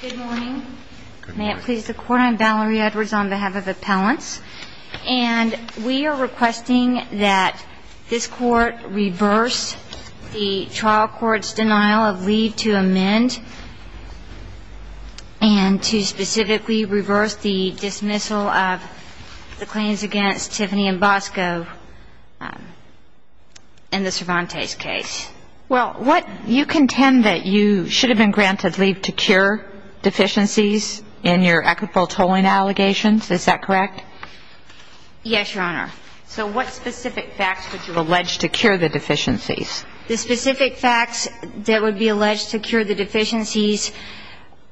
Good morning. May it please the Court, I'm Valerie Edwards on behalf of Appellants. And we are requesting that this Court reverse the trial court's denial of leave to amend and to specifically reverse the dismissal of the claims against Tiffany and Bosco in the Cervantes case. Well, you contend that you should have been granted leave to cure deficiencies in your equitable tolling allegations, is that correct? Yes, Your Honor. So what specific facts would you allege to cure the deficiencies? The specific facts that would be alleged to cure the deficiencies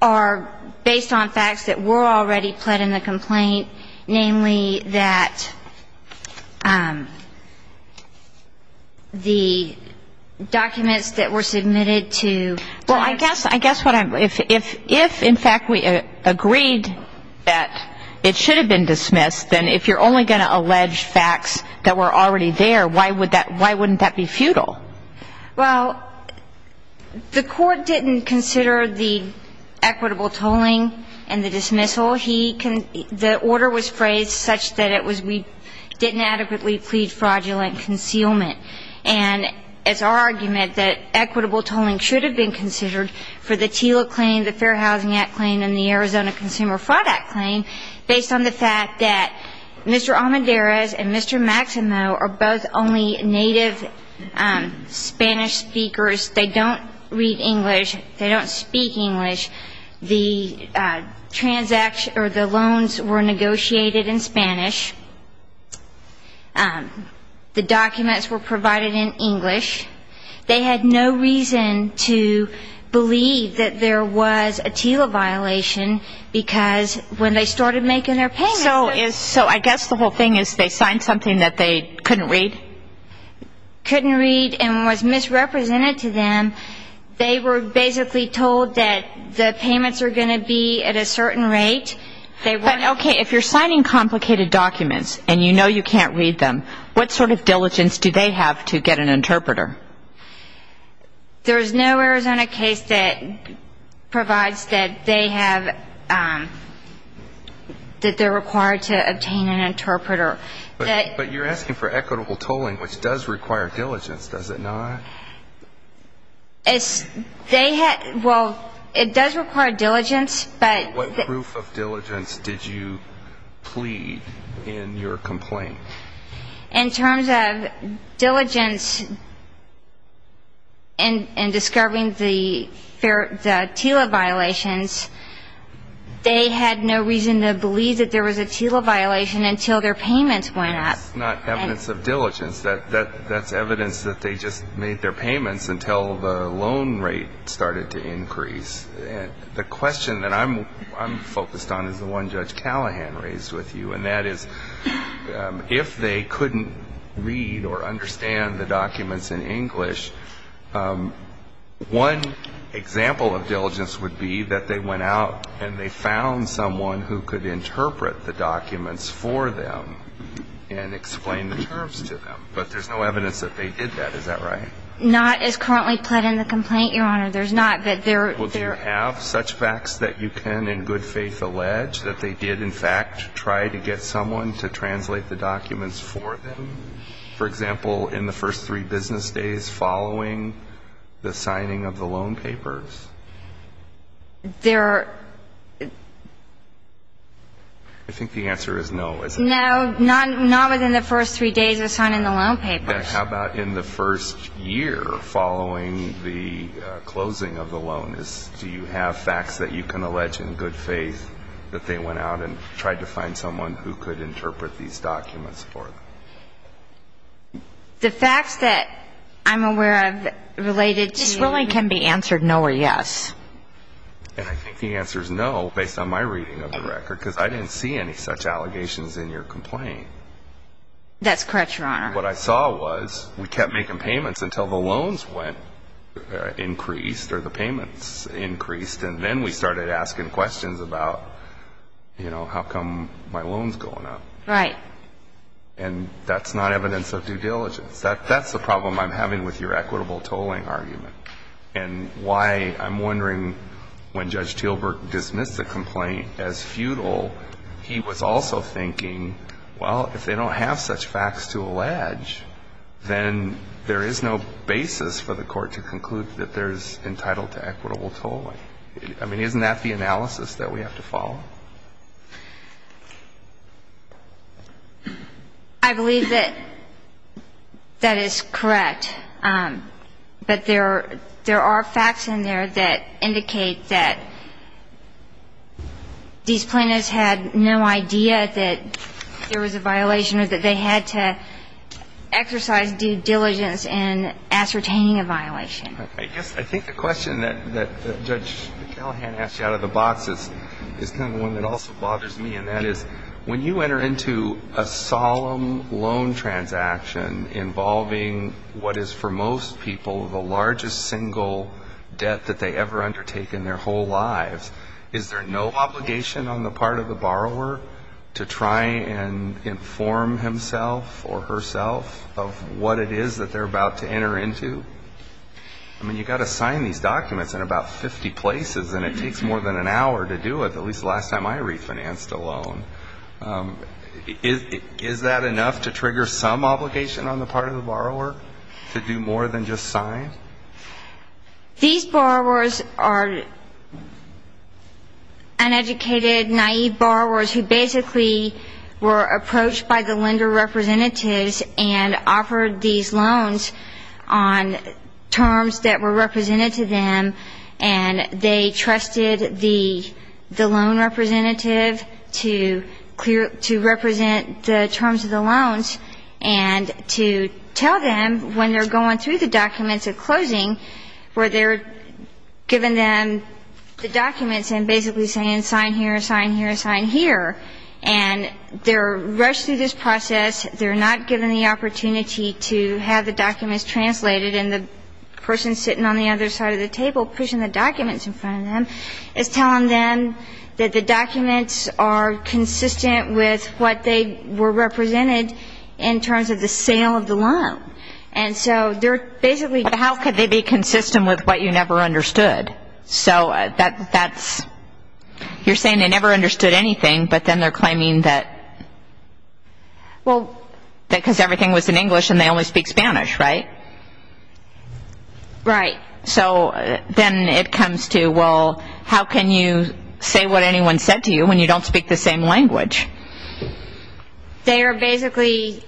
are based on facts that were already pled in the complaint, namely that the documents that were submitted to the court. Well, I guess what I'm, if in fact we agreed that it should have been dismissed, then if you're only going to allege facts that were already there, why would that, why wouldn't that be futile? Well, the court didn't consider the equitable tolling and the dismissal. The order was phrased such that it was we didn't adequately plead fraudulent concealment. And it's our argument that equitable tolling should have been considered for the TILA claim, the Fair Housing Act claim, and the Arizona Consumer Fraud Act claim, based on the fact that Mr. Almendarez and Mr. Maximo are both only native Spanish speakers. They don't read English. They don't speak English. The transaction or the loans were negotiated in Spanish. The documents were provided in English. They had no reason to believe that there was a TILA violation, because when they started making their payments they were So I guess the whole thing is they signed something that they couldn't read? Couldn't read and was misrepresented to them. They were basically told that the payments are going to be at a certain rate. Okay, if you're signing complicated documents and you know you can't read them, what sort of diligence do they have to get an interpreter? There's no Arizona case that provides that they have, that they're required to obtain an interpreter. But you're asking for equitable tolling, which does require diligence, does it not? Well, it does require diligence, but What proof of diligence did you plead in your complaint? In terms of diligence in discovering the TILA violations, they had no reason to believe that there was a TILA violation until their payments went up. That's not evidence of diligence. That's evidence that they just made their payments until the loan rate started to increase. The question that I'm focused on is the one Judge Callahan raised with you, and that is if they couldn't read or understand the documents in English, one example of diligence would be that they went out and they found someone who could interpret the documents for them. And explain the terms to them. But there's no evidence that they did that. Is that right? Not as currently pled in the complaint, Your Honor. There's not, but there Well, do you have such facts that you can in good faith allege that they did, in fact, try to get someone to translate the documents for them? For example, in the first three business days following the signing of the loan papers? There are I think the answer is no, isn't it? No, not within the first three days of signing the loan papers. Then how about in the first year following the closing of the loan? Do you have facts that you can allege in good faith that they went out and tried to find someone who could interpret these documents for them? The facts that I'm aware of related to This really can be answered no or yes. And I think the answer is no, based on my reading of the record, because I didn't see any such allegations in your complaint. That's correct, Your Honor. What I saw was we kept making payments until the loans went increased or the payments increased, and then we started asking questions about how come my loan's going up. Right. And that's not evidence of due diligence. That's the problem I'm having with your equitable tolling argument And why I'm wondering, when Judge Teelburg dismissed the complaint as futile, he was also thinking, well, if they don't have such facts to allege, then there is no basis for the court to conclude that they're entitled to equitable tolling. I mean, isn't that the analysis that we have to follow? I believe that that is correct. But there are facts in there that indicate that these plaintiffs had no idea that there was a violation or that they had to exercise due diligence in ascertaining a violation. I guess I think the question that Judge Callahan asked you out of the box is kind of one that also bothers me, and that is when you enter into a solemn loan transaction involving what is for most people the largest single debt that they ever undertake in their whole lives, is there no obligation on the part of the borrower to try and inform himself or herself of what it is that they're about to enter into? I mean, you've got to sign these documents in about 50 places, and it takes more than an hour to do it, at least the last time I refinanced a loan. Is that enough to trigger some obligation on the part of the borrower to do more than just sign? These borrowers are uneducated, naive borrowers who basically were approached by the lender representatives and offered these loans on terms that were represented to them, and they trusted the loan representative to represent the terms of the loans and to tell them when they're going through the documents at closing where they're giving them the documents and basically saying sign here, sign here, sign here. And they're rushed through this process. They're not given the opportunity to have the documents translated, and the person sitting on the other side of the table pushing the documents in front of them is telling them that the documents are consistent with what they were represented in terms of the sale of the loan. And so they're basically going through the process. But how could they be consistent with what you never understood? So that's you're saying they never understood anything, but then they're claiming that because everything was in English and they only speak Spanish, right? Right. So then it comes to, well, how can you say what anyone said to you when you don't speak the same language? They are basically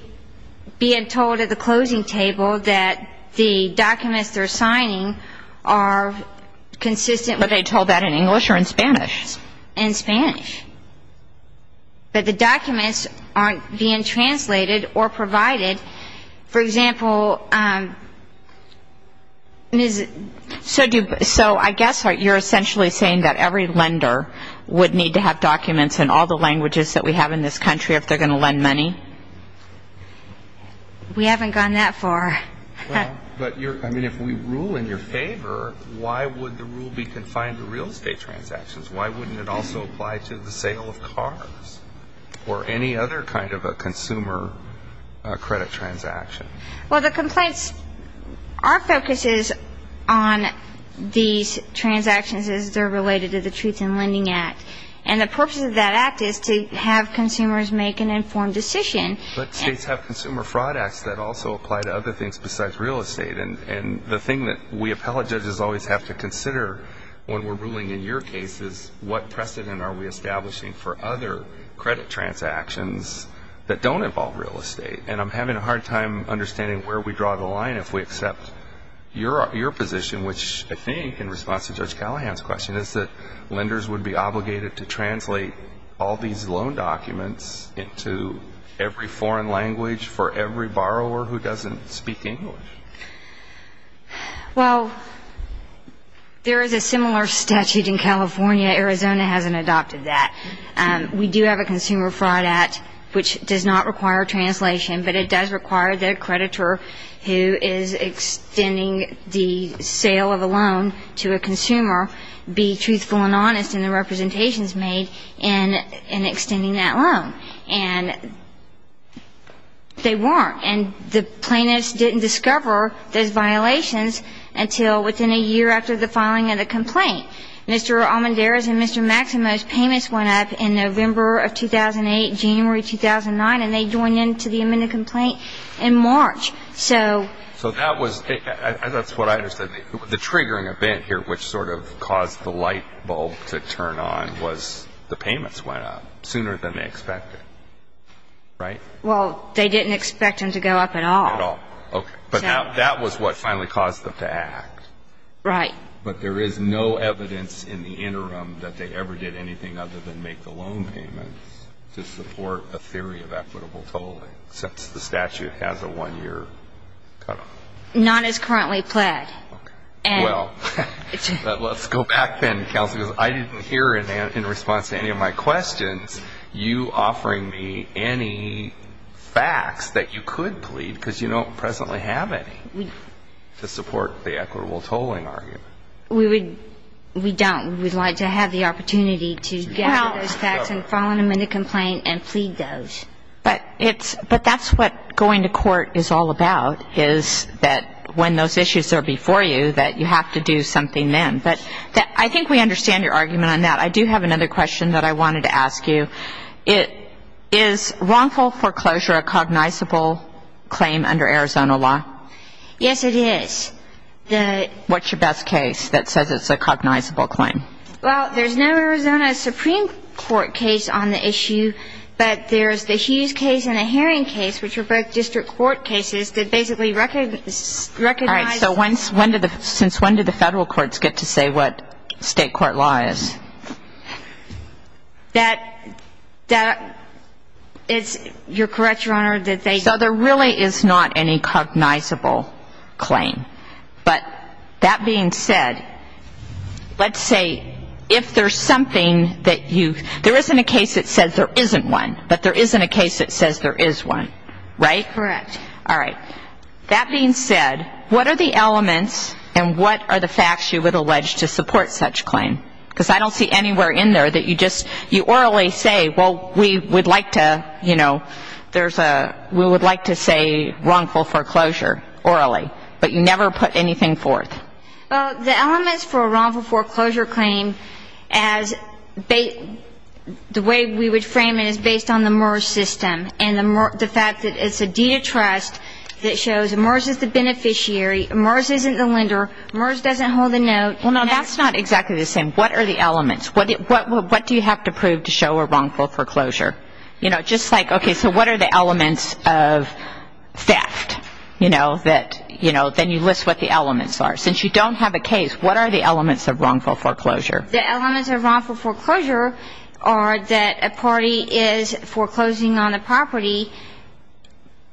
being told at the closing table that the documents they're signing are consistent with the terms of the loan. But are they told that in English or in Spanish? In Spanish. But the documents aren't being translated or provided. For example, so I guess you're essentially saying that every lender would need to have documents in all the languages that we have in this country if they're going to lend money? We haven't gone that far. But if we rule in your favor, why would the rule be confined to real estate transactions? Why wouldn't it also apply to the sale of cars or any other kind of a consumer credit transaction? Well, the complaints, our focus is on these transactions as they're related to the Truth in Lending Act. And the purpose of that act is to have consumers make an informed decision. But states have consumer fraud acts that also apply to other things besides real estate. And the thing that we appellate judges always have to consider when we're ruling in your case is what precedent are we establishing for other credit transactions that don't involve real estate? And I'm having a hard time understanding where we draw the line if we accept your position, which I think in response to Judge Callahan's question is that lenders would be obligated to translate all these loan documents into every foreign language for every borrower who doesn't speak English. Well, there is a similar statute in California. Arizona hasn't adopted that. We do have a consumer fraud act which does not require translation, but it does require the creditor who is extending the sale of a loan to a consumer be truthful and honest in the representations made in extending that loan. And they weren't. And the plaintiffs didn't discover those violations until within a year after the filing of the complaint. Mr. Almendarez and Mr. Maximo's payments went up in November of 2008, January 2009, and they joined in to the amended complaint in March. So that was the triggering event here which sort of caused the light bulb to turn on was the payments went up sooner than they expected, right? Well, they didn't expect them to go up at all. At all. Okay. But that was what finally caused them to act. Right. But there is no evidence in the interim that they ever did anything other than make the loan payments to support a theory of equitable tolling since the statute has a one-year cutoff. Not as currently pled. Well, let's go back then, Counsel, because I didn't hear in response to any of my questions you offering me any facts that you could plead, because you don't presently have any, to support the equitable tolling argument. We don't. We would like to have the opportunity to gather those facts and file an amended complaint and plead those. But that's what going to court is all about, is that when those issues are before you, that you have to do something then. But I think we understand your argument on that. I do have another question that I wanted to ask you. Is wrongful foreclosure a cognizable claim under Arizona law? Yes, it is. What's your best case that says it's a cognizable claim? Well, there's no Arizona Supreme Court case on the issue, but there's the Hughes case and the Herring case, which are both district court cases, that basically recognize. All right. So since when did the federal courts get to say what state court law is? That it's, you're correct, Your Honor, that they. So there really is not any cognizable claim. But that being said, let's say if there's something that you, there isn't a case that says there isn't one, but there isn't a case that says there is one, right? Correct. All right. That being said, what are the elements and what are the facts you would allege to support such claim? Because I don't see anywhere in there that you just, you orally say, well, we would like to, you know, there's a, we would like to say wrongful foreclosure orally. But you never put anything forth. Well, the elements for a wrongful foreclosure claim as, the way we would frame it is based on the MERS system and the fact that it's a deed of trust that shows MERS is the beneficiary, MERS isn't the lender, MERS doesn't hold a note. Well, no, that's not exactly the same. What are the elements? What do you have to prove to show a wrongful foreclosure? You know, just like, okay, so what are the elements of theft? You know, that, you know, then you list what the elements are. Since you don't have a case, what are the elements of wrongful foreclosure? The elements of wrongful foreclosure are that a party is foreclosing on a property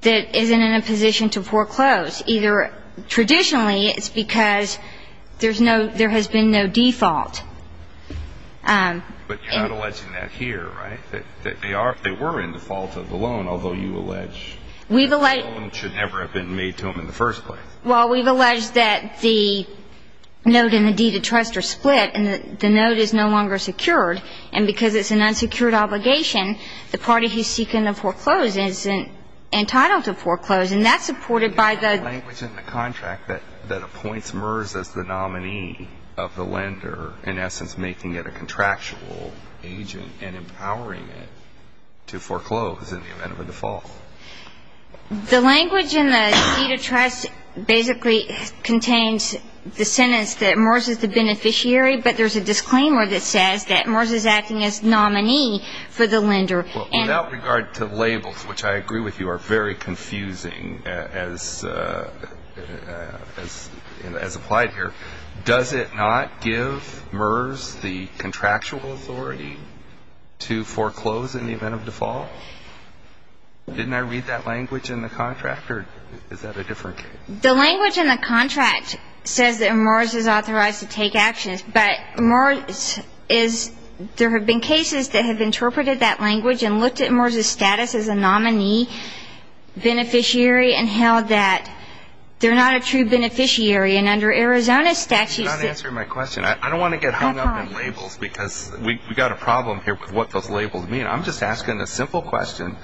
that isn't in a position to foreclose. Either traditionally it's because there's no, there has been no default. But you're not alleging that here, right? That they were in default of the loan, although you allege the loan should never have been made to them in the first place. Well, we've alleged that the note and the deed of trust are split and the note is no longer secured. And because it's an unsecured obligation, the party who's seeking to foreclose is entitled to foreclose. And that's supported by the… in essence making it a contractual agent and empowering it to foreclose in the event of a default. The language in the deed of trust basically contains the sentence that Morris is the beneficiary, but there's a disclaimer that says that Morris is acting as nominee for the lender. Without regard to labels, which I agree with you are very confusing as applied here, does it not give Morris the contractual authority to foreclose in the event of default? Didn't I read that language in the contract or is that a different case? The language in the contract says that Morris is authorized to take actions, but Morris is, there have been cases that have interpreted that language and looked at Morris' status as a nominee beneficiary and held that they're not a true beneficiary. And under Arizona statutes… You're not answering my question. I don't want to get hung up in labels because we've got a problem here with what those labels mean. I'm just asking a simple question.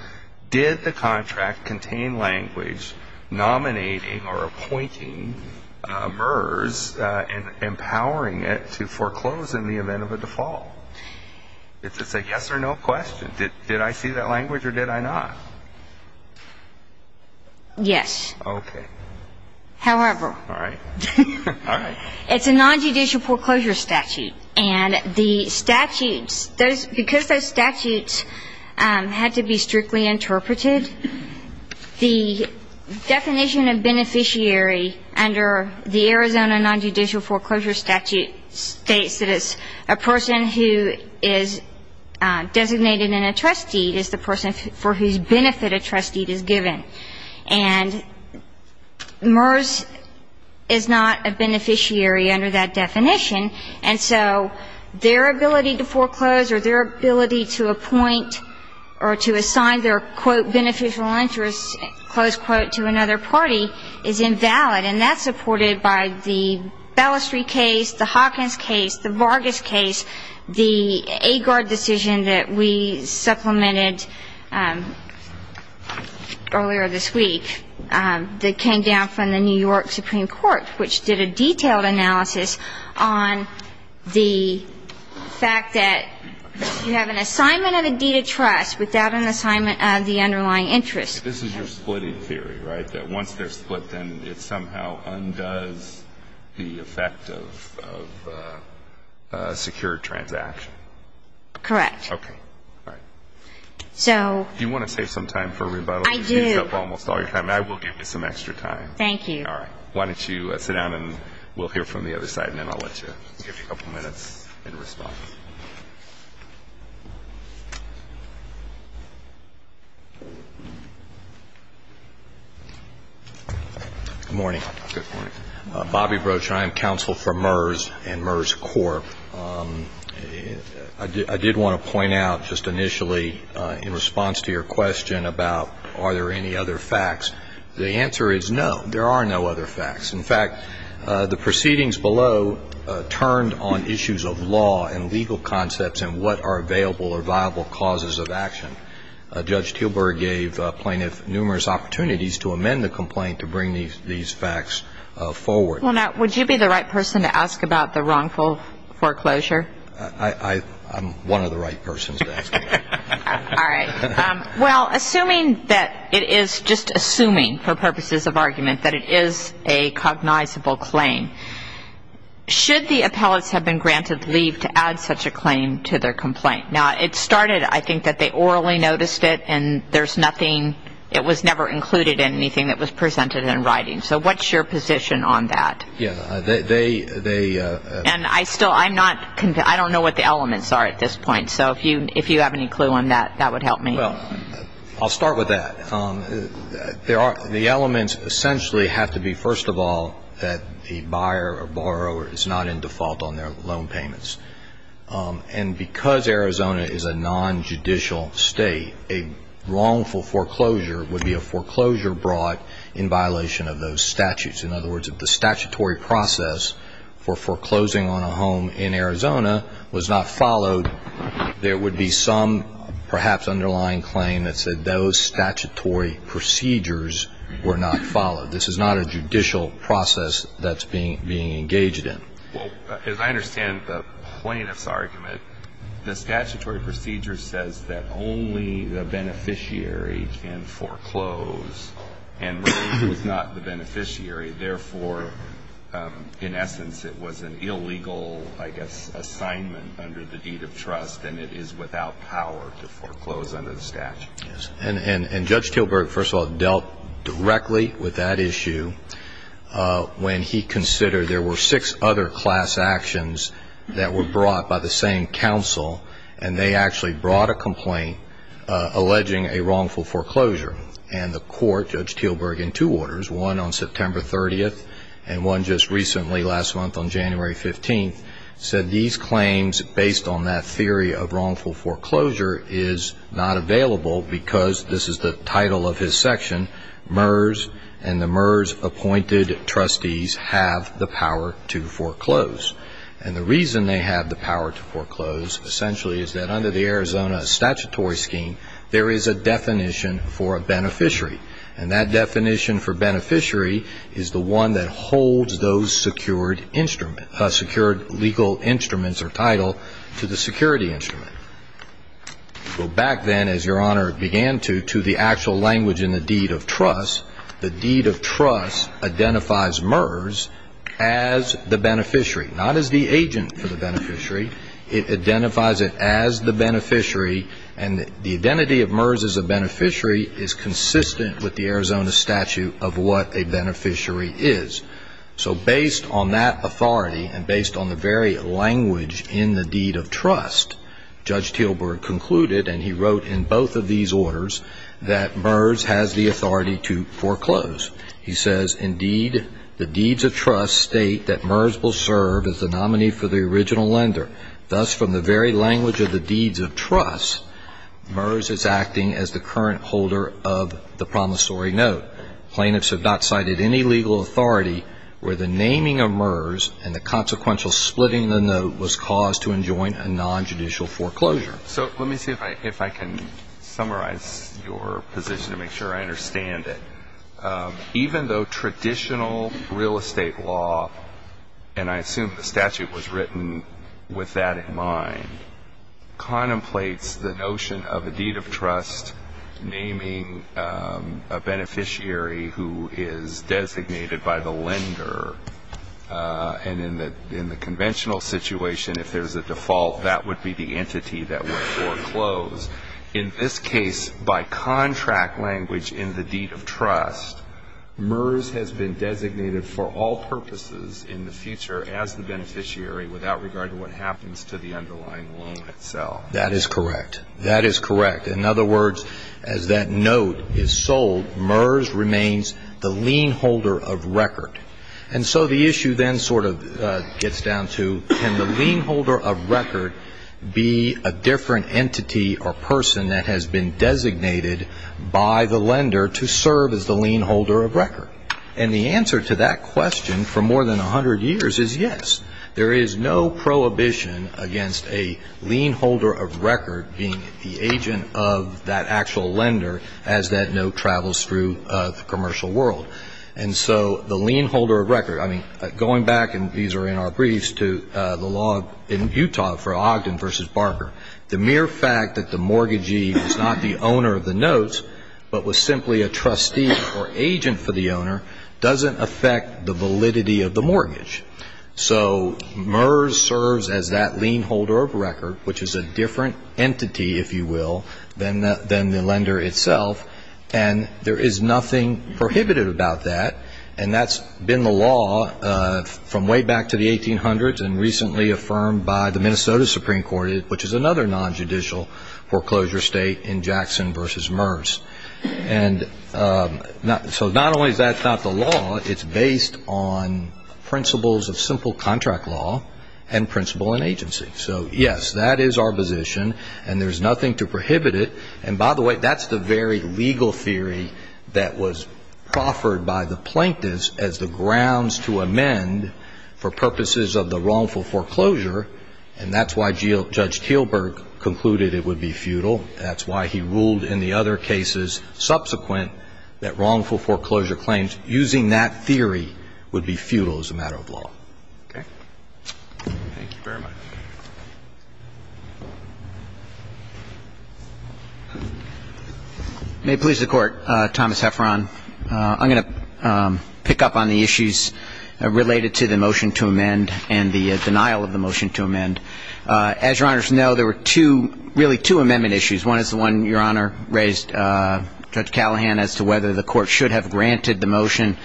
Did the contract contain language nominating or appointing MERS and empowering it to foreclose in the event of a default? It's a yes or no question. Did I see that language or did I not? Yes. Okay. However… All right. All right. It's a nonjudicial foreclosure statute, and the statutes, because those statutes had to be strictly interpreted, the definition of beneficiary under the Arizona nonjudicial foreclosure statute states that it's a person who is designated in a trust deed is the person for whose benefit a trust deed is given. And MERS is not a beneficiary under that definition, and so their ability to foreclose or their ability to appoint or to assign their, quote, beneficial interest, close quote, to another party is invalid, and that's supported by the Ballestry case, the Hawkins case, the Vargas case, the Agard decision that we supplemented earlier this week that came down from the New York Supreme Court, which did a detailed analysis on the fact that you have an assignment and a deed of trust without an assignment of the underlying interest. This is your splitting theory, right, that once they're split, then it somehow undoes the effect of a secure transaction? Correct. Okay. All right. So… Do you want to save some time for rebuttal? I do. You've used up almost all your time. I will give you some extra time. Thank you. All right. Why don't you sit down and we'll hear from the other side, and then I'll let you give a couple minutes in response. Good morning. Good morning. Bobby Broach, I am counsel for MERS and MERS Corp. I did want to point out just initially in response to your question about are there any other facts, the answer is no. There are no other facts. In fact, the proceedings below turned on issues of law and legal concepts and what are available or viable causes of action. Judge Teelburg gave plaintiffs numerous opportunities to amend the complaint to bring these facts forward. Well, now, would you be the right person to ask about the wrongful foreclosure? I'm one of the right persons to ask about that. All right. Well, assuming that it is just assuming for purposes of argument that it is a cognizable claim, should the appellants have been granted leave to add such a claim to their complaint? Now, it started, I think, that they orally noticed it and there's nothing, it was never included in anything that was presented in writing. So what's your position on that? Yeah, they they And I still, I'm not, I don't know what the elements are at this point. So if you have any clue on that, that would help me. Well, I'll start with that. There are, the elements essentially have to be, first of all, that the buyer or borrower is not in default on their loan payments. And because Arizona is a nonjudicial state, a wrongful foreclosure would be a foreclosure brought in violation of those statutes. In other words, if the statutory process for foreclosing on a home in Arizona was not followed, there would be some perhaps underlying claim that said those statutory procedures were not followed. This is not a judicial process that's being engaged in. Well, as I understand the plaintiff's argument, the statutory procedure says that only the beneficiary can foreclose and was not the beneficiary. Therefore, in essence, it was an illegal, I guess, assignment under the deed of trust, and it is without power to foreclose under the statute. Yes. And Judge Tilburg, first of all, dealt directly with that issue when he considered there were six other class actions that were brought by the same counsel, and they actually brought a complaint alleging a wrongful foreclosure. And the court, Judge Tilburg, in two orders, one on September 30th and one just recently last month on January 15th, said these claims based on that theory of wrongful foreclosure is not available because this is the title of his section, MERS and the MERS-appointed trustees have the power to foreclose. And the reason they have the power to foreclose, essentially, is that under the Arizona statutory scheme, there is a definition for a beneficiary, and that definition for beneficiary is the one that holds those secured instruments, secured legal instruments or title to the security instrument. Go back then, as Your Honor began to, to the actual language in the deed of trust. The deed of trust identifies MERS as the beneficiary, not as the agent for the beneficiary. It identifies it as the beneficiary, and the identity of MERS as a beneficiary is consistent with the Arizona statute of what a beneficiary is. So based on that authority and based on the very language in the deed of trust, Judge Tilburg concluded, and he wrote in both of these orders, that MERS has the authority to foreclose. He says, indeed, the deeds of trust state that MERS will serve as the nominee for the original lender. Thus, from the very language of the deeds of trust, MERS is acting as the current holder of the promissory note. Plaintiffs have not cited any legal authority where the naming of MERS and the consequential splitting of the note was caused to enjoin a nonjudicial foreclosure. So let me see if I can summarize your position to make sure I understand it. Even though traditional real estate law, and I assume the statute was written with that in mind, contemplates the notion of a deed of trust naming a beneficiary who is designated by the lender, and in the conventional situation, if there's a default, that would be the entity that would foreclose. In this case, by contract language in the deed of trust, MERS has been designated for all purposes in the future as the beneficiary, without regard to what happens to the underlying loan itself. That is correct. That is correct. In other words, as that note is sold, MERS remains the lien holder of record. And so the issue then sort of gets down to, can the lien holder of record be a different entity or person that has been designated by the lender to serve as the lien holder of record? And the answer to that question for more than 100 years is yes. There is no prohibition against a lien holder of record being the agent of that actual lender as that note travels through the commercial world. And so the lien holder of record, I mean, going back, and these are in our briefs, to the law in Utah for Ogden v. Barker, the mere fact that the mortgagee is not the owner of the notes but was simply a trustee or agent for the owner doesn't affect the validity of the mortgage. So MERS serves as that lien holder of record, which is a different entity, if you will, than the lender itself, and there is nothing prohibited about that, and that's been the law from way back to the 1800s and recently affirmed by the Minnesota Supreme Court, which is another nonjudicial foreclosure state in Jackson v. MERS. And so not only is that not the law, it's based on principles of simple contract law and principle and agency. So, yes, that is our position, and there's nothing to prohibit it. And, by the way, that's the very legal theory that was proffered by the plaintiffs as the grounds to amend for purposes of the wrongful foreclosure, and that's why Judge Teelberg concluded it would be futile. That's why he ruled in the other cases subsequent that wrongful foreclosure claims, using that theory, would be futile as a matter of law. Okay. Thank you very much. May it please the Court. Thomas Hefferon. I'm going to pick up on the issues related to the motion to amend and the denial of the motion to amend. As Your Honors know, there were two, really two, amendment issues. One is the one Your Honor raised, Judge Callahan, as to whether the Court should have granted the motion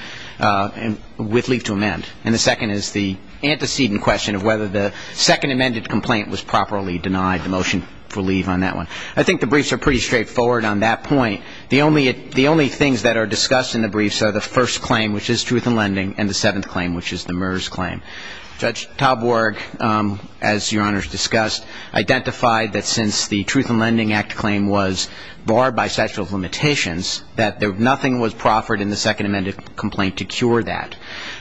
with leave to amend, and the second is the antecedent question of whether the second amended complaint was properly denied, the motion for leave on that one. I think the briefs are pretty straightforward on that point. The only things that are discussed in the briefs are the first claim, which is truth in lending, and the seventh claim, which is the MERS claim. Judge Toborg, as Your Honors discussed, identified that since the Truth in Lending Act claim was barred by statute of limitations, that nothing was proffered in the second amended complaint to cure that.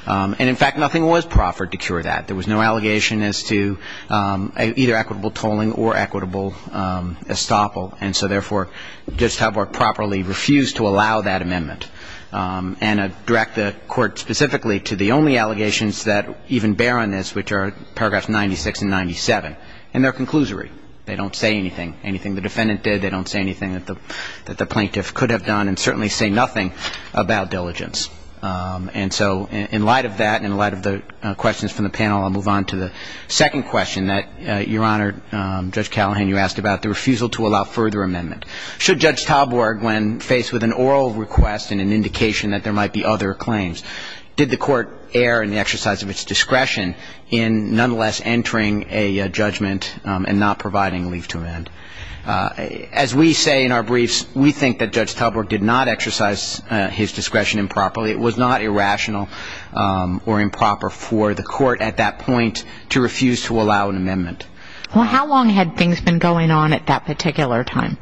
And, in fact, nothing was proffered to cure that. There was no allegation as to either equitable tolling or equitable estoppel. And so, therefore, Judge Toborg properly refused to allow that amendment and direct the Court specifically to the only allegations that even bear on this, which are paragraphs 96 and 97, and they're conclusory. They don't say anything, anything the defendant did. They don't say anything that the plaintiff could have done and certainly say nothing about diligence. And so in light of that and in light of the questions from the panel, I'll move on to the second question that Your Honor, Judge Callahan, you asked about the refusal to allow further amendment. Should Judge Toborg, when faced with an oral request and an indication that there might be other claims, did the Court err in the exercise of its discretion in nonetheless entering a judgment and not providing leave to amend? As we say in our briefs, we think that Judge Toborg did not exercise his discretion improperly or it was not irrational or improper for the Court at that point to refuse to allow an amendment. Well, how long had things been going on at that particular time?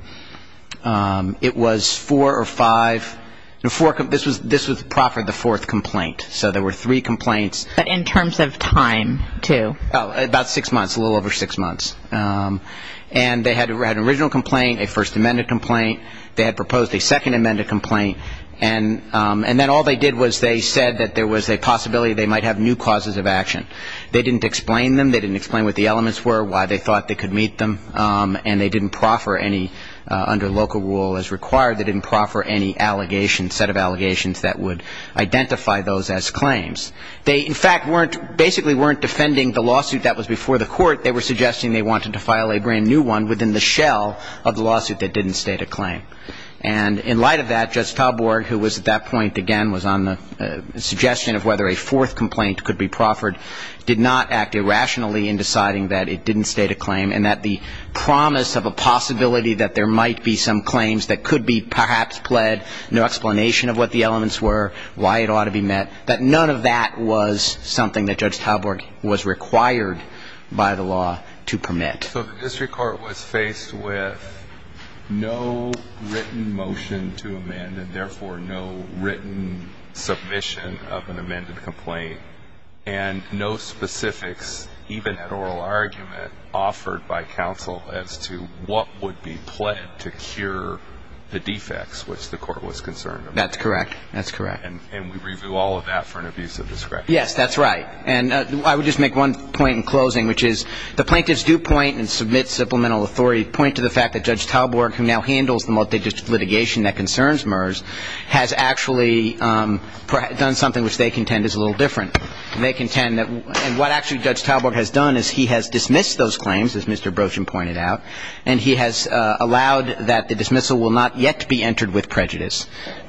It was four or five. This was proper of the fourth complaint. So there were three complaints. But in terms of time, too? About six months, a little over six months. And they had an original complaint, a First Amendment complaint. They had proposed a Second Amendment complaint. And then all they did was they said that there was a possibility they might have new causes of action. They didn't explain them. They didn't explain what the elements were, why they thought they could meet them. And they didn't proffer any, under local rule as required, they didn't proffer any allegations, set of allegations that would identify those as claims. They, in fact, basically weren't defending the lawsuit that was before the Court. They were suggesting they wanted to file a brand-new one within the shell of the lawsuit that didn't state a claim. And in light of that, Judge Talborg, who was at that point, again, was on the suggestion of whether a fourth complaint could be proffered, did not act irrationally in deciding that it didn't state a claim and that the promise of a possibility that there might be some claims that could be perhaps pled, no explanation of what the elements were, why it ought to be met, that none of that was something that Judge Talborg was required by the law to permit. So the district court was faced with no written motion to amend and therefore no written submission of an amended complaint and no specifics, even at oral argument, offered by counsel as to what would be pled to cure the defects which the court was concerned about. That's correct. That's correct. And we review all of that for an abuse of discretion. Yes, that's right. And I would just make one point in closing, which is the plaintiffs do point and submit supplemental authority, point to the fact that Judge Talborg, who now handles the multidistrict litigation that concerns MERS, has actually done something which they contend is a little different. They contend that what actually Judge Talborg has done is he has dismissed those claims, as Mr. Brochin pointed out, and he has allowed that the dismissal will not yet be entered with prejudice.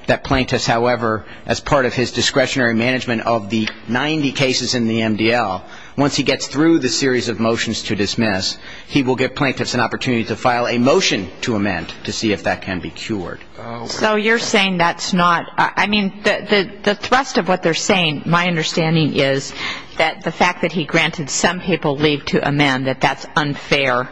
That plaintiffs, however, as part of his discretionary management of the 90 cases in the MDL, once he gets through the series of motions to dismiss, he will give plaintiffs an opportunity to file a motion to amend to see if that can be cured. So you're saying that's not ñ I mean, the thrust of what they're saying, my understanding is, that the fact that he granted some people leave to amend, that that's unfair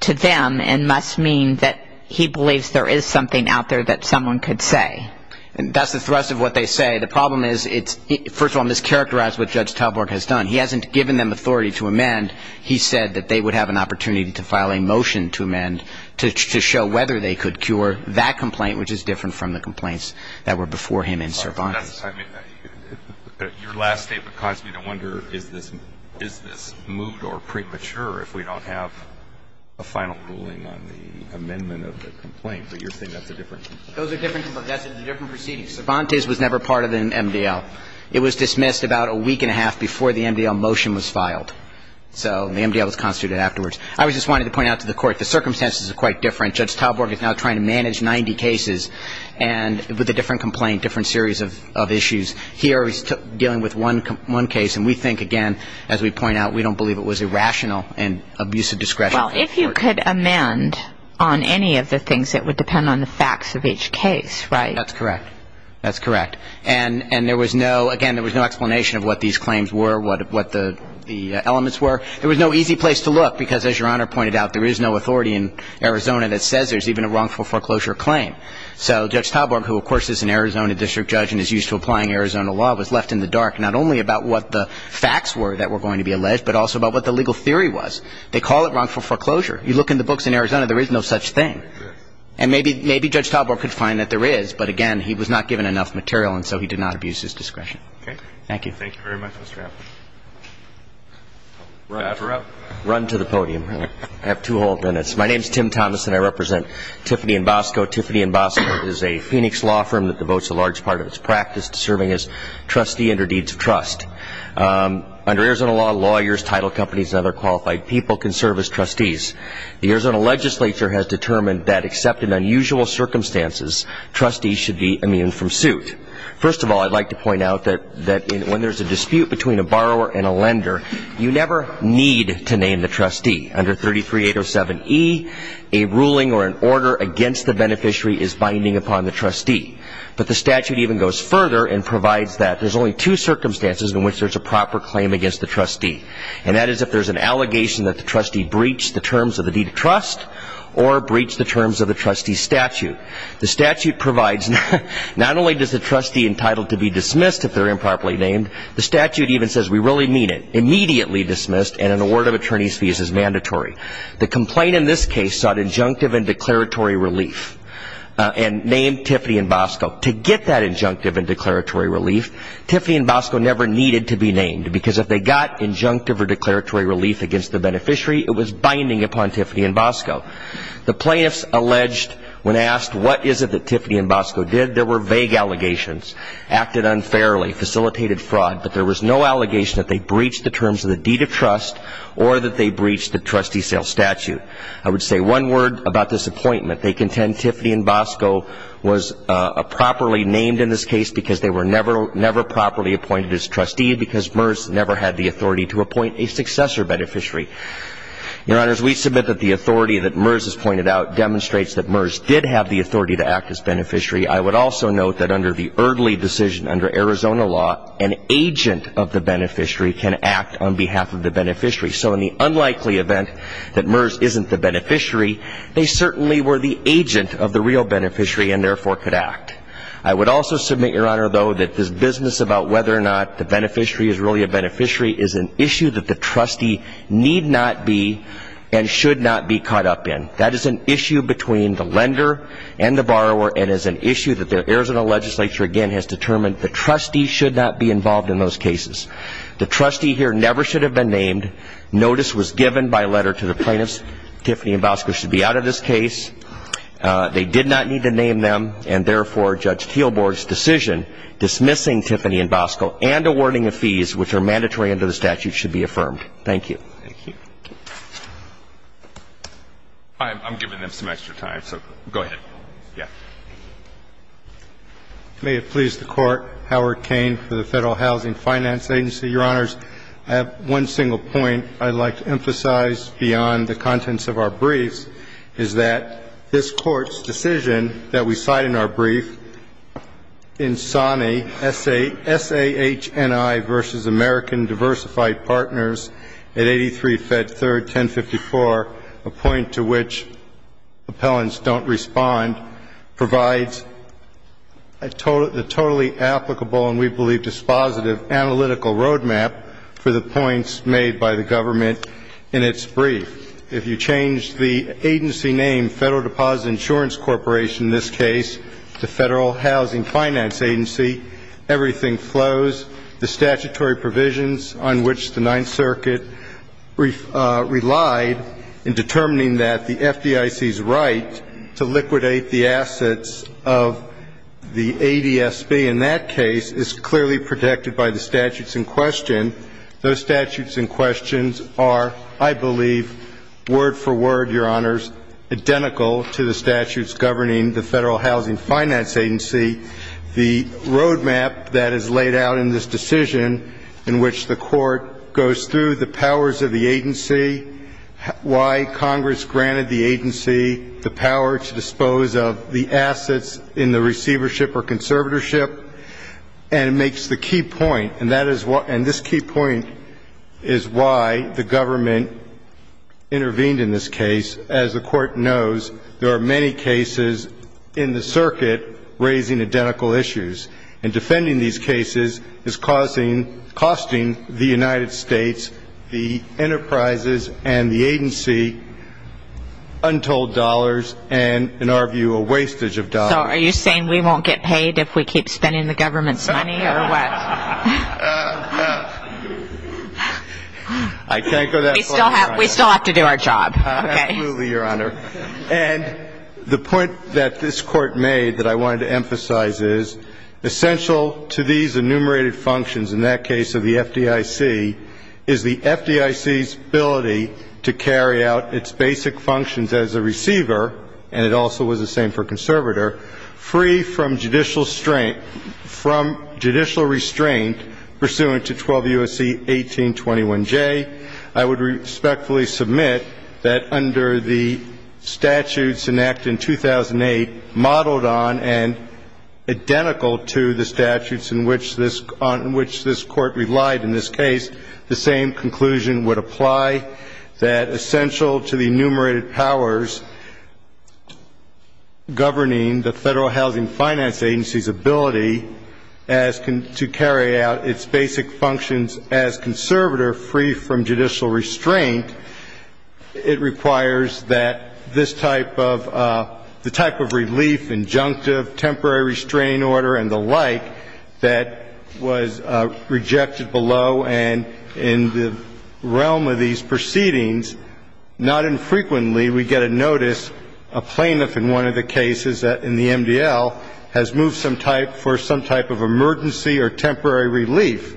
to them and must mean that he believes there is something out there that someone could say. And that's the thrust of what they say. The problem is, first of all, it's mischaracterized what Judge Talborg has done. He hasn't given them authority to amend. He said that they would have an opportunity to file a motion to amend to show whether they could cure that complaint, which is different from the complaints that were before him in Cervantes. Your last statement caused me to wonder, is this ñ is this moot or premature if we don't have a final ruling on the amendment of the complaint? But you're saying that's a different ñ Those are different. That's a different proceeding. Cervantes was never part of an MDL. It was dismissed about a week and a half before the MDL motion was filed. So the MDL was constituted afterwards. I was just wanting to point out to the Court the circumstances are quite different. Judge Talborg is now trying to manage 90 cases and with a different complaint, different series of issues. Here he's dealing with one case, and we think, again, as we point out, we don't believe it was irrational and abusive discretion. Well, if you could amend on any of the things, it would depend on the facts of each case, right? That's correct. That's correct. And there was no ñ again, there was no explanation of what these claims were, what the elements were. There was no easy place to look because, as Your Honor pointed out, there is no authority in Arizona that says there's even a wrongful foreclosure claim. So Judge Talborg, who, of course, is an Arizona district judge and is used to applying Arizona law, was left in the dark not only about what the facts were that were going to be alleged, but also about what the legal theory was. They call it wrongful foreclosure. You look in the books in Arizona, there is no such thing. And maybe Judge Talborg could find that there is, but, again, he was not given enough material, and so he did not abuse his discretion. Okay. Thank you. Thank you very much, Mr. Appleby. Rapper up. Run to the podium. I have two whole minutes. My name is Tim Thomas, and I represent Tiffany & Bosco. Tiffany & Bosco is a Phoenix law firm that devotes a large part of its practice to serving as trustee under deeds of trust. Under Arizona law, lawyers, title companies, and other qualified people can serve as trustees. The Arizona legislature has determined that, except in unusual circumstances, trustees should be immune from suit. First of all, I'd like to point out that when there's a dispute between a borrower and a lender, you never need to name the trustee. Under 33807E, a ruling or an order against the beneficiary is binding upon the trustee. But the statute even goes further and provides that there's only two circumstances in which there's a proper claim against the trustee, and that is if there's an allegation that the trustee breached the terms of the deed of trust or breached the terms of the trustee's statute. The statute provides not only does the trustee entitled to be dismissed if they're improperly named, the statute even says we really mean it. Immediately dismissed and an award of attorney's fees is mandatory. The complaint in this case sought injunctive and declaratory relief and named Tiffany and Bosco. To get that injunctive and declaratory relief, Tiffany and Bosco never needed to be named because if they got injunctive or declaratory relief against the beneficiary, it was binding upon Tiffany and Bosco. The plaintiffs alleged when asked what is it that Tiffany and Bosco did, there were vague allegations, acted unfairly, and facilitated fraud, but there was no allegation that they breached the terms of the deed of trust or that they breached the trustee sale statute. I would say one word about this appointment. They contend Tiffany and Bosco was properly named in this case because they were never properly appointed as trustee because MERS never had the authority to appoint a successor beneficiary. Your Honors, we submit that the authority that MERS has pointed out demonstrates that MERS did have the authority to act as beneficiary. I would also note that under the Erdley decision, under Arizona law, an agent of the beneficiary can act on behalf of the beneficiary. So in the unlikely event that MERS isn't the beneficiary, they certainly were the agent of the real beneficiary and therefore could act. I would also submit, Your Honor, though, that this business about whether or not the beneficiary is really a beneficiary is an issue that the trustee need not be and should not be caught up in. That is an issue between the lender and the borrower and is an issue that the Arizona legislature, again, has determined the trustee should not be involved in those cases. The trustee here never should have been named. Notice was given by letter to the plaintiffs. Tiffany and Bosco should be out of this case. They did not need to name them and, therefore, Judge Teelborg's decision dismissing Tiffany and Bosco and awarding the fees, which are mandatory under the statute, should be affirmed. Thank you. I'm giving them some extra time, so go ahead. Yeah. May it please the Court. Howard Cain for the Federal Housing Finance Agency. Your Honors, I have one single point I'd like to emphasize beyond the contents of our briefs, is that this Court's decision that we cite in our brief, in SAHNI, S-A-H-N-I versus American Diversified Partners at 83 Fed 3rd, 1054, a point to which appellants don't respond, provides a totally applicable and we believe dispositive analytical roadmap for the points made by the government in its brief. If you change the agency name, Federal Deposit Insurance Corporation in this case, to Federal Housing Finance Agency, everything flows. The statutory provisions on which the Ninth Circuit relied in determining that the FDIC's right to liquidate the assets of the ADSB in that case is clearly protected by the statutes in question. Those statutes in question are, I believe, word for word, Your Honors, identical to the statutes governing the Federal Housing Finance Agency. The roadmap that is laid out in this decision in which the Court goes through the powers of the agency, why Congress granted the agency the power to dispose of the assets in the receivership or conservatorship, and it makes the key point, and this key point is why the government intervened in this case. As the Court knows, there are many cases in the circuit raising identical issues, and defending these cases is costing the United States, the enterprises, and the agency untold dollars and, in our view, a wastage of dollars. So are you saying we won't get paid if we keep spending the government's money or what? I can't go that far, Your Honor. We still have to do our job. Absolutely, Your Honor. And the point that this Court made that I wanted to emphasize is essential to these enumerated functions in that case of the FDIC is the FDIC's ability to carry out its basic functions as a receiver, and it also was the same for a conservator, free from judicial restraint pursuant to 12 U.S.C. 1821J. I would respectfully submit that under the statutes enacted in 2008, modeled on and identical to the statutes on which this Court relied in this case, the same conclusion would apply, that essential to the enumerated powers governing the Federal Housing Finance Agency's ability to carry out its basic functions as conservator free from judicial restraint, it requires that this type of relief, injunctive, temporary restraining order, and the like, that was rejected below and in the realm of these proceedings, not infrequently we get a notice, a plaintiff in one of the cases in the MDL, has moved for some type of emergency or temporary relief.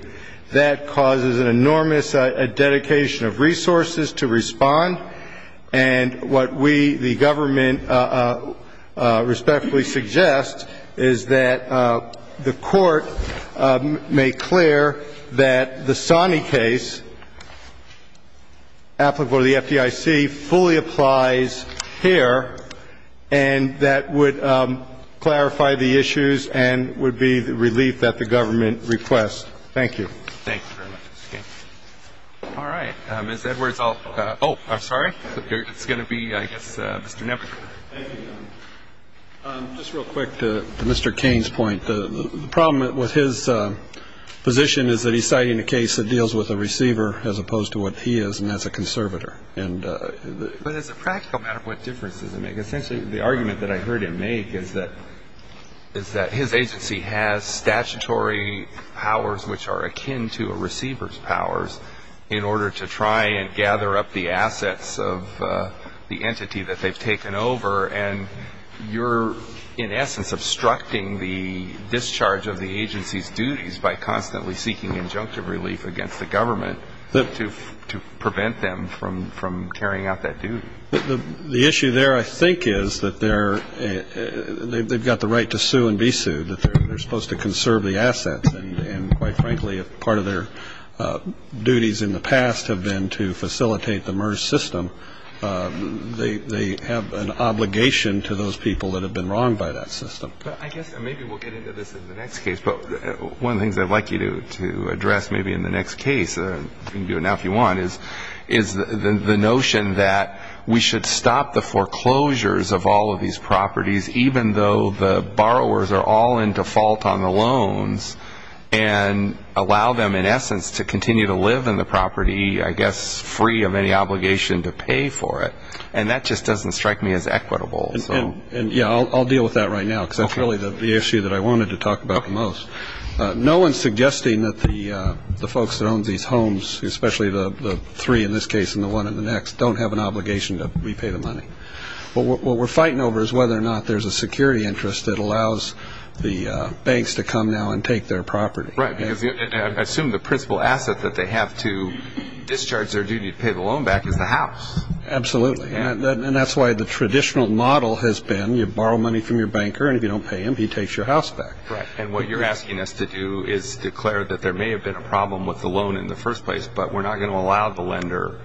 That causes an enormous dedication of resources to respond. And what we, the government, respectfully suggest is that the Court make clear that the Sonny case applicable to the FDIC fully applies here, and that would clarify the issues and would be the relief that the government requests. Thank you. Thank you very much, Mr. King. All right. Ms. Edwards, I'll follow up. Oh, absolutely. Sorry. It's going to be, I guess, Mr. Knepper. Thank you. Just real quick to Mr. King's point. The problem with his position is that he's citing a case that deals with a receiver as opposed to what he is, and that's a conservator. But as a practical matter, what difference does it make? Essentially, the argument that I heard him make is that his agency has statutory powers which are akin to a receiver's powers in order to try and gather up the assets of the entity that they've taken over, and you're, in essence, obstructing the discharge of the agency's duties by constantly seeking injunctive relief against the government to prevent them from carrying out that duty. The issue there, I think, is that they've got the right to sue and be sued. They're supposed to conserve the assets, and quite frankly, if part of their duties in the past have been to facilitate the MERS system, they have an obligation to those people that have been wronged by that system. I guess maybe we'll get into this in the next case, but one of the things I'd like you to address maybe in the next case, you can do it now if you want, is the notion that we should stop the foreclosures of all of these properties, even though the borrowers are all in default on the loans, and allow them, in essence, to continue to live in the property, I guess, free of any obligation to pay for it. And that just doesn't strike me as equitable. And, yeah, I'll deal with that right now, because that's really the issue that I wanted to talk about the most. No one is suggesting that the folks that own these homes, especially the three in this case and the one in the next, don't have an obligation to repay the money. What we're fighting over is whether or not there's a security interest that allows the banks to come now and take their property. Right. Because I assume the principal asset that they have to discharge their duty to pay the loan back is the house. Absolutely. And that's why the traditional model has been you borrow money from your banker, and if you don't pay him, he takes your house back. Right. And what you're asking us to do is declare that there may have been a problem with the loan in the first place, but we're not going to allow the lender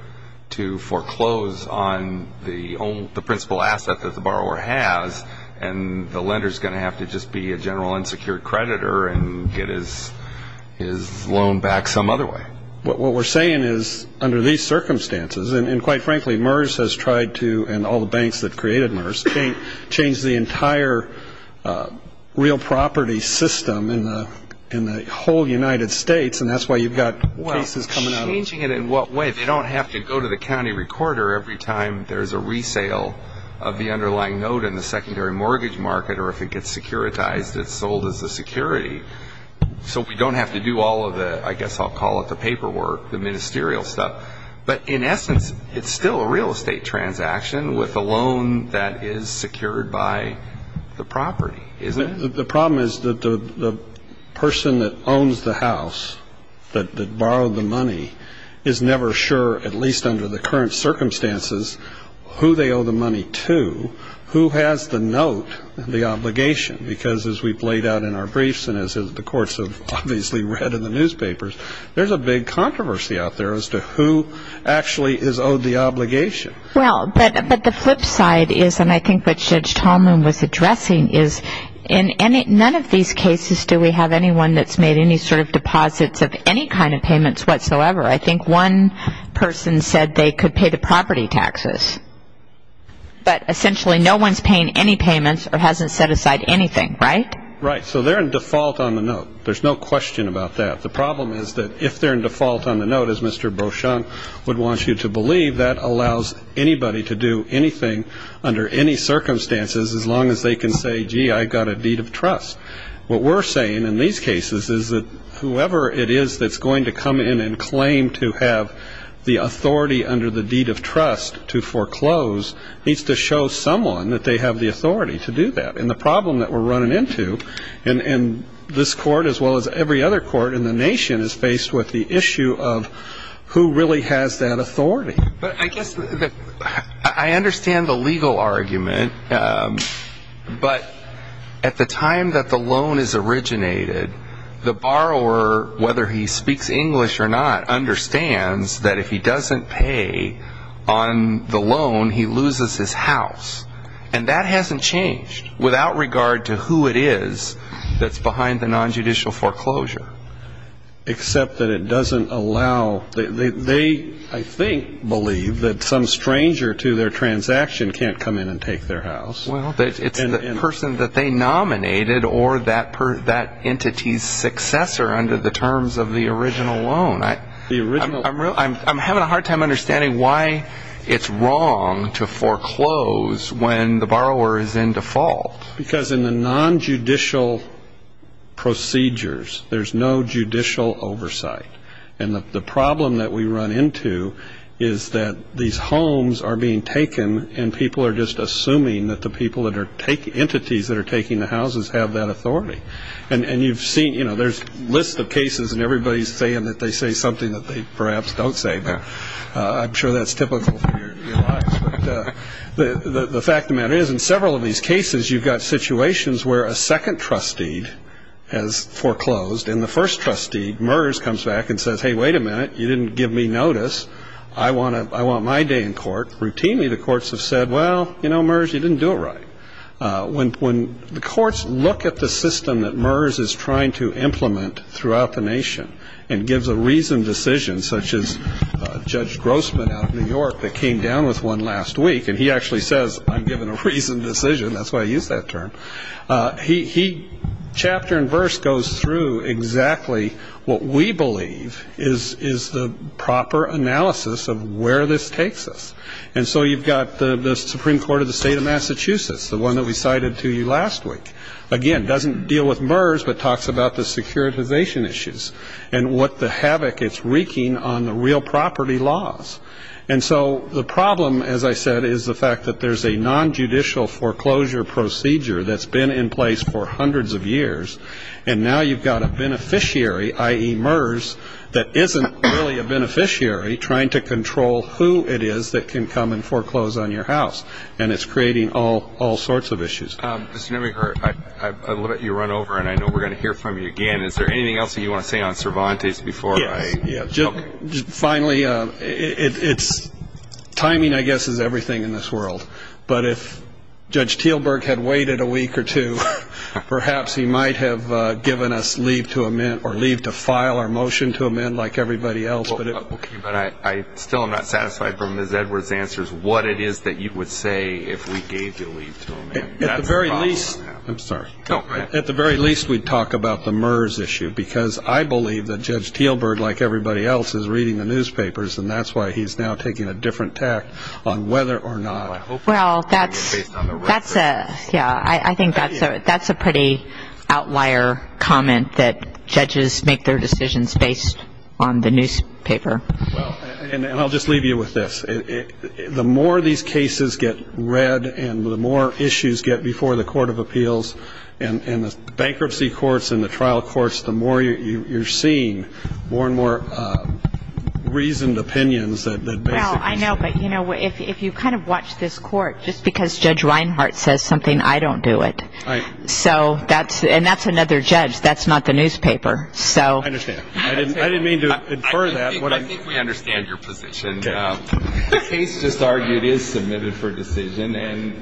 to foreclose on the principal asset that the borrower has, and the lender is going to have to just be a general unsecured creditor and get his loan back some other way. What we're saying is under these circumstances, and quite frankly, MERS has tried to, and all the banks that created MERS, changed the entire real property system in the whole United States, and that's why you've got cases coming out of it. Well, changing it in what way? They don't have to go to the county recorder every time there's a resale of the underlying note in the secondary mortgage market, or if it gets securitized, it's sold as a security. So we don't have to do all of the, I guess I'll call it the paperwork, the ministerial stuff. But in essence, it's still a real estate transaction with a loan that is secured by the property, isn't it? The problem is that the person that owns the house, that borrowed the money, is never sure, at least under the current circumstances, who they owe the money to, who has the note and the obligation, because as we've laid out in our briefs and as the courts have obviously read in the newspapers, there's a big controversy out there as to who actually is owed the obligation. Well, but the flip side is, and I think what Judge Tallman was addressing, is in none of these cases do we have anyone that's made any sort of deposits of any kind of payments whatsoever. I think one person said they could pay the property taxes, but essentially no one's paying any payments or hasn't set aside anything, right? Right, so they're in default on the note. There's no question about that. The problem is that if they're in default on the note, as Mr. Beauchamp would want you to believe, that allows anybody to do anything under any circumstances as long as they can say, gee, I've got a deed of trust. What we're saying in these cases is that whoever it is that's going to come in and claim to have the authority under the deed of trust to foreclose needs to show someone that they have the authority to do that. And the problem that we're running into in this court as well as every other court in the nation is faced with the issue of who really has that authority. But I guess I understand the legal argument, but at the time that the loan is originated, the borrower, whether he speaks English or not, understands that if he doesn't pay on the loan, he loses his house. And that hasn't changed without regard to who it is that's behind the nonjudicial foreclosure. Except that it doesn't allow they, I think, believe that some stranger to their transaction can't come in and take their house. Well, it's the person that they nominated or that entity's successor under the terms of the original loan. I'm having a hard time understanding why it's wrong to foreclose when the borrower is in default. Because in the nonjudicial procedures, there's no judicial oversight. And the problem that we run into is that these homes are being taken and people are just assuming that the entities that are taking the houses have that authority. And you've seen, you know, there's lists of cases and everybody's saying that they say something that they perhaps don't say, but I'm sure that's typical for your lives. The fact of the matter is, in several of these cases, you've got situations where a second trustee has foreclosed and the first trustee, MERS, comes back and says, hey, wait a minute, you didn't give me notice. I want my day in court. Routinely, the courts have said, well, you know, MERS, you didn't do it right. When the courts look at the system that MERS is trying to implement throughout the nation and gives a reasoned decision, such as Judge Grossman out of New York that came down with one last week, and he actually says, I'm giving a reasoned decision, that's why I used that term, he chapter and verse goes through exactly what we believe is the proper analysis of where this takes us. And so you've got the Supreme Court of the state of Massachusetts, the one that we cited to you last week, again, doesn't deal with MERS but talks about the securitization issues and what the havoc it's wreaking on the real property laws. And so the problem, as I said, is the fact that there's a nonjudicial foreclosure procedure that's been in place for hundreds of years, and now you've got a beneficiary, i.e. MERS, that isn't really a beneficiary trying to control who it is that can come and foreclose on your house. And it's creating all sorts of issues. I'm going to let you run over, and I know we're going to hear from you again. Is there anything else that you want to say on Cervantes before I? Finally, timing, I guess, is everything in this world. But if Judge Teelburg had waited a week or two, perhaps he might have given us leave to amend or leave to file our motion to amend like everybody else. But I still am not satisfied from Ms. Edwards' answers what it is that you would say if we gave you leave to amend. At the very least, we'd talk about the MERS issue, because I believe that Judge Teelburg, like everybody else, is reading the newspapers, and that's why he's now taking a different tact on whether or not. Well, that's a pretty outlier comment that judges make their decisions based on the newspaper. And I'll just leave you with this. The more these cases get read and the more issues get before the Court of Appeals and the bankruptcy courts and the trial courts, the more you're seeing more and more reasoned opinions that basically say. Well, I know, but, you know, if you kind of watch this court, just because Judge Reinhart says something, I don't do it. So that's – and that's another judge. That's not the newspaper. I understand. I didn't mean to infer that. I think we understand your position. The case just argued is submitted for decision.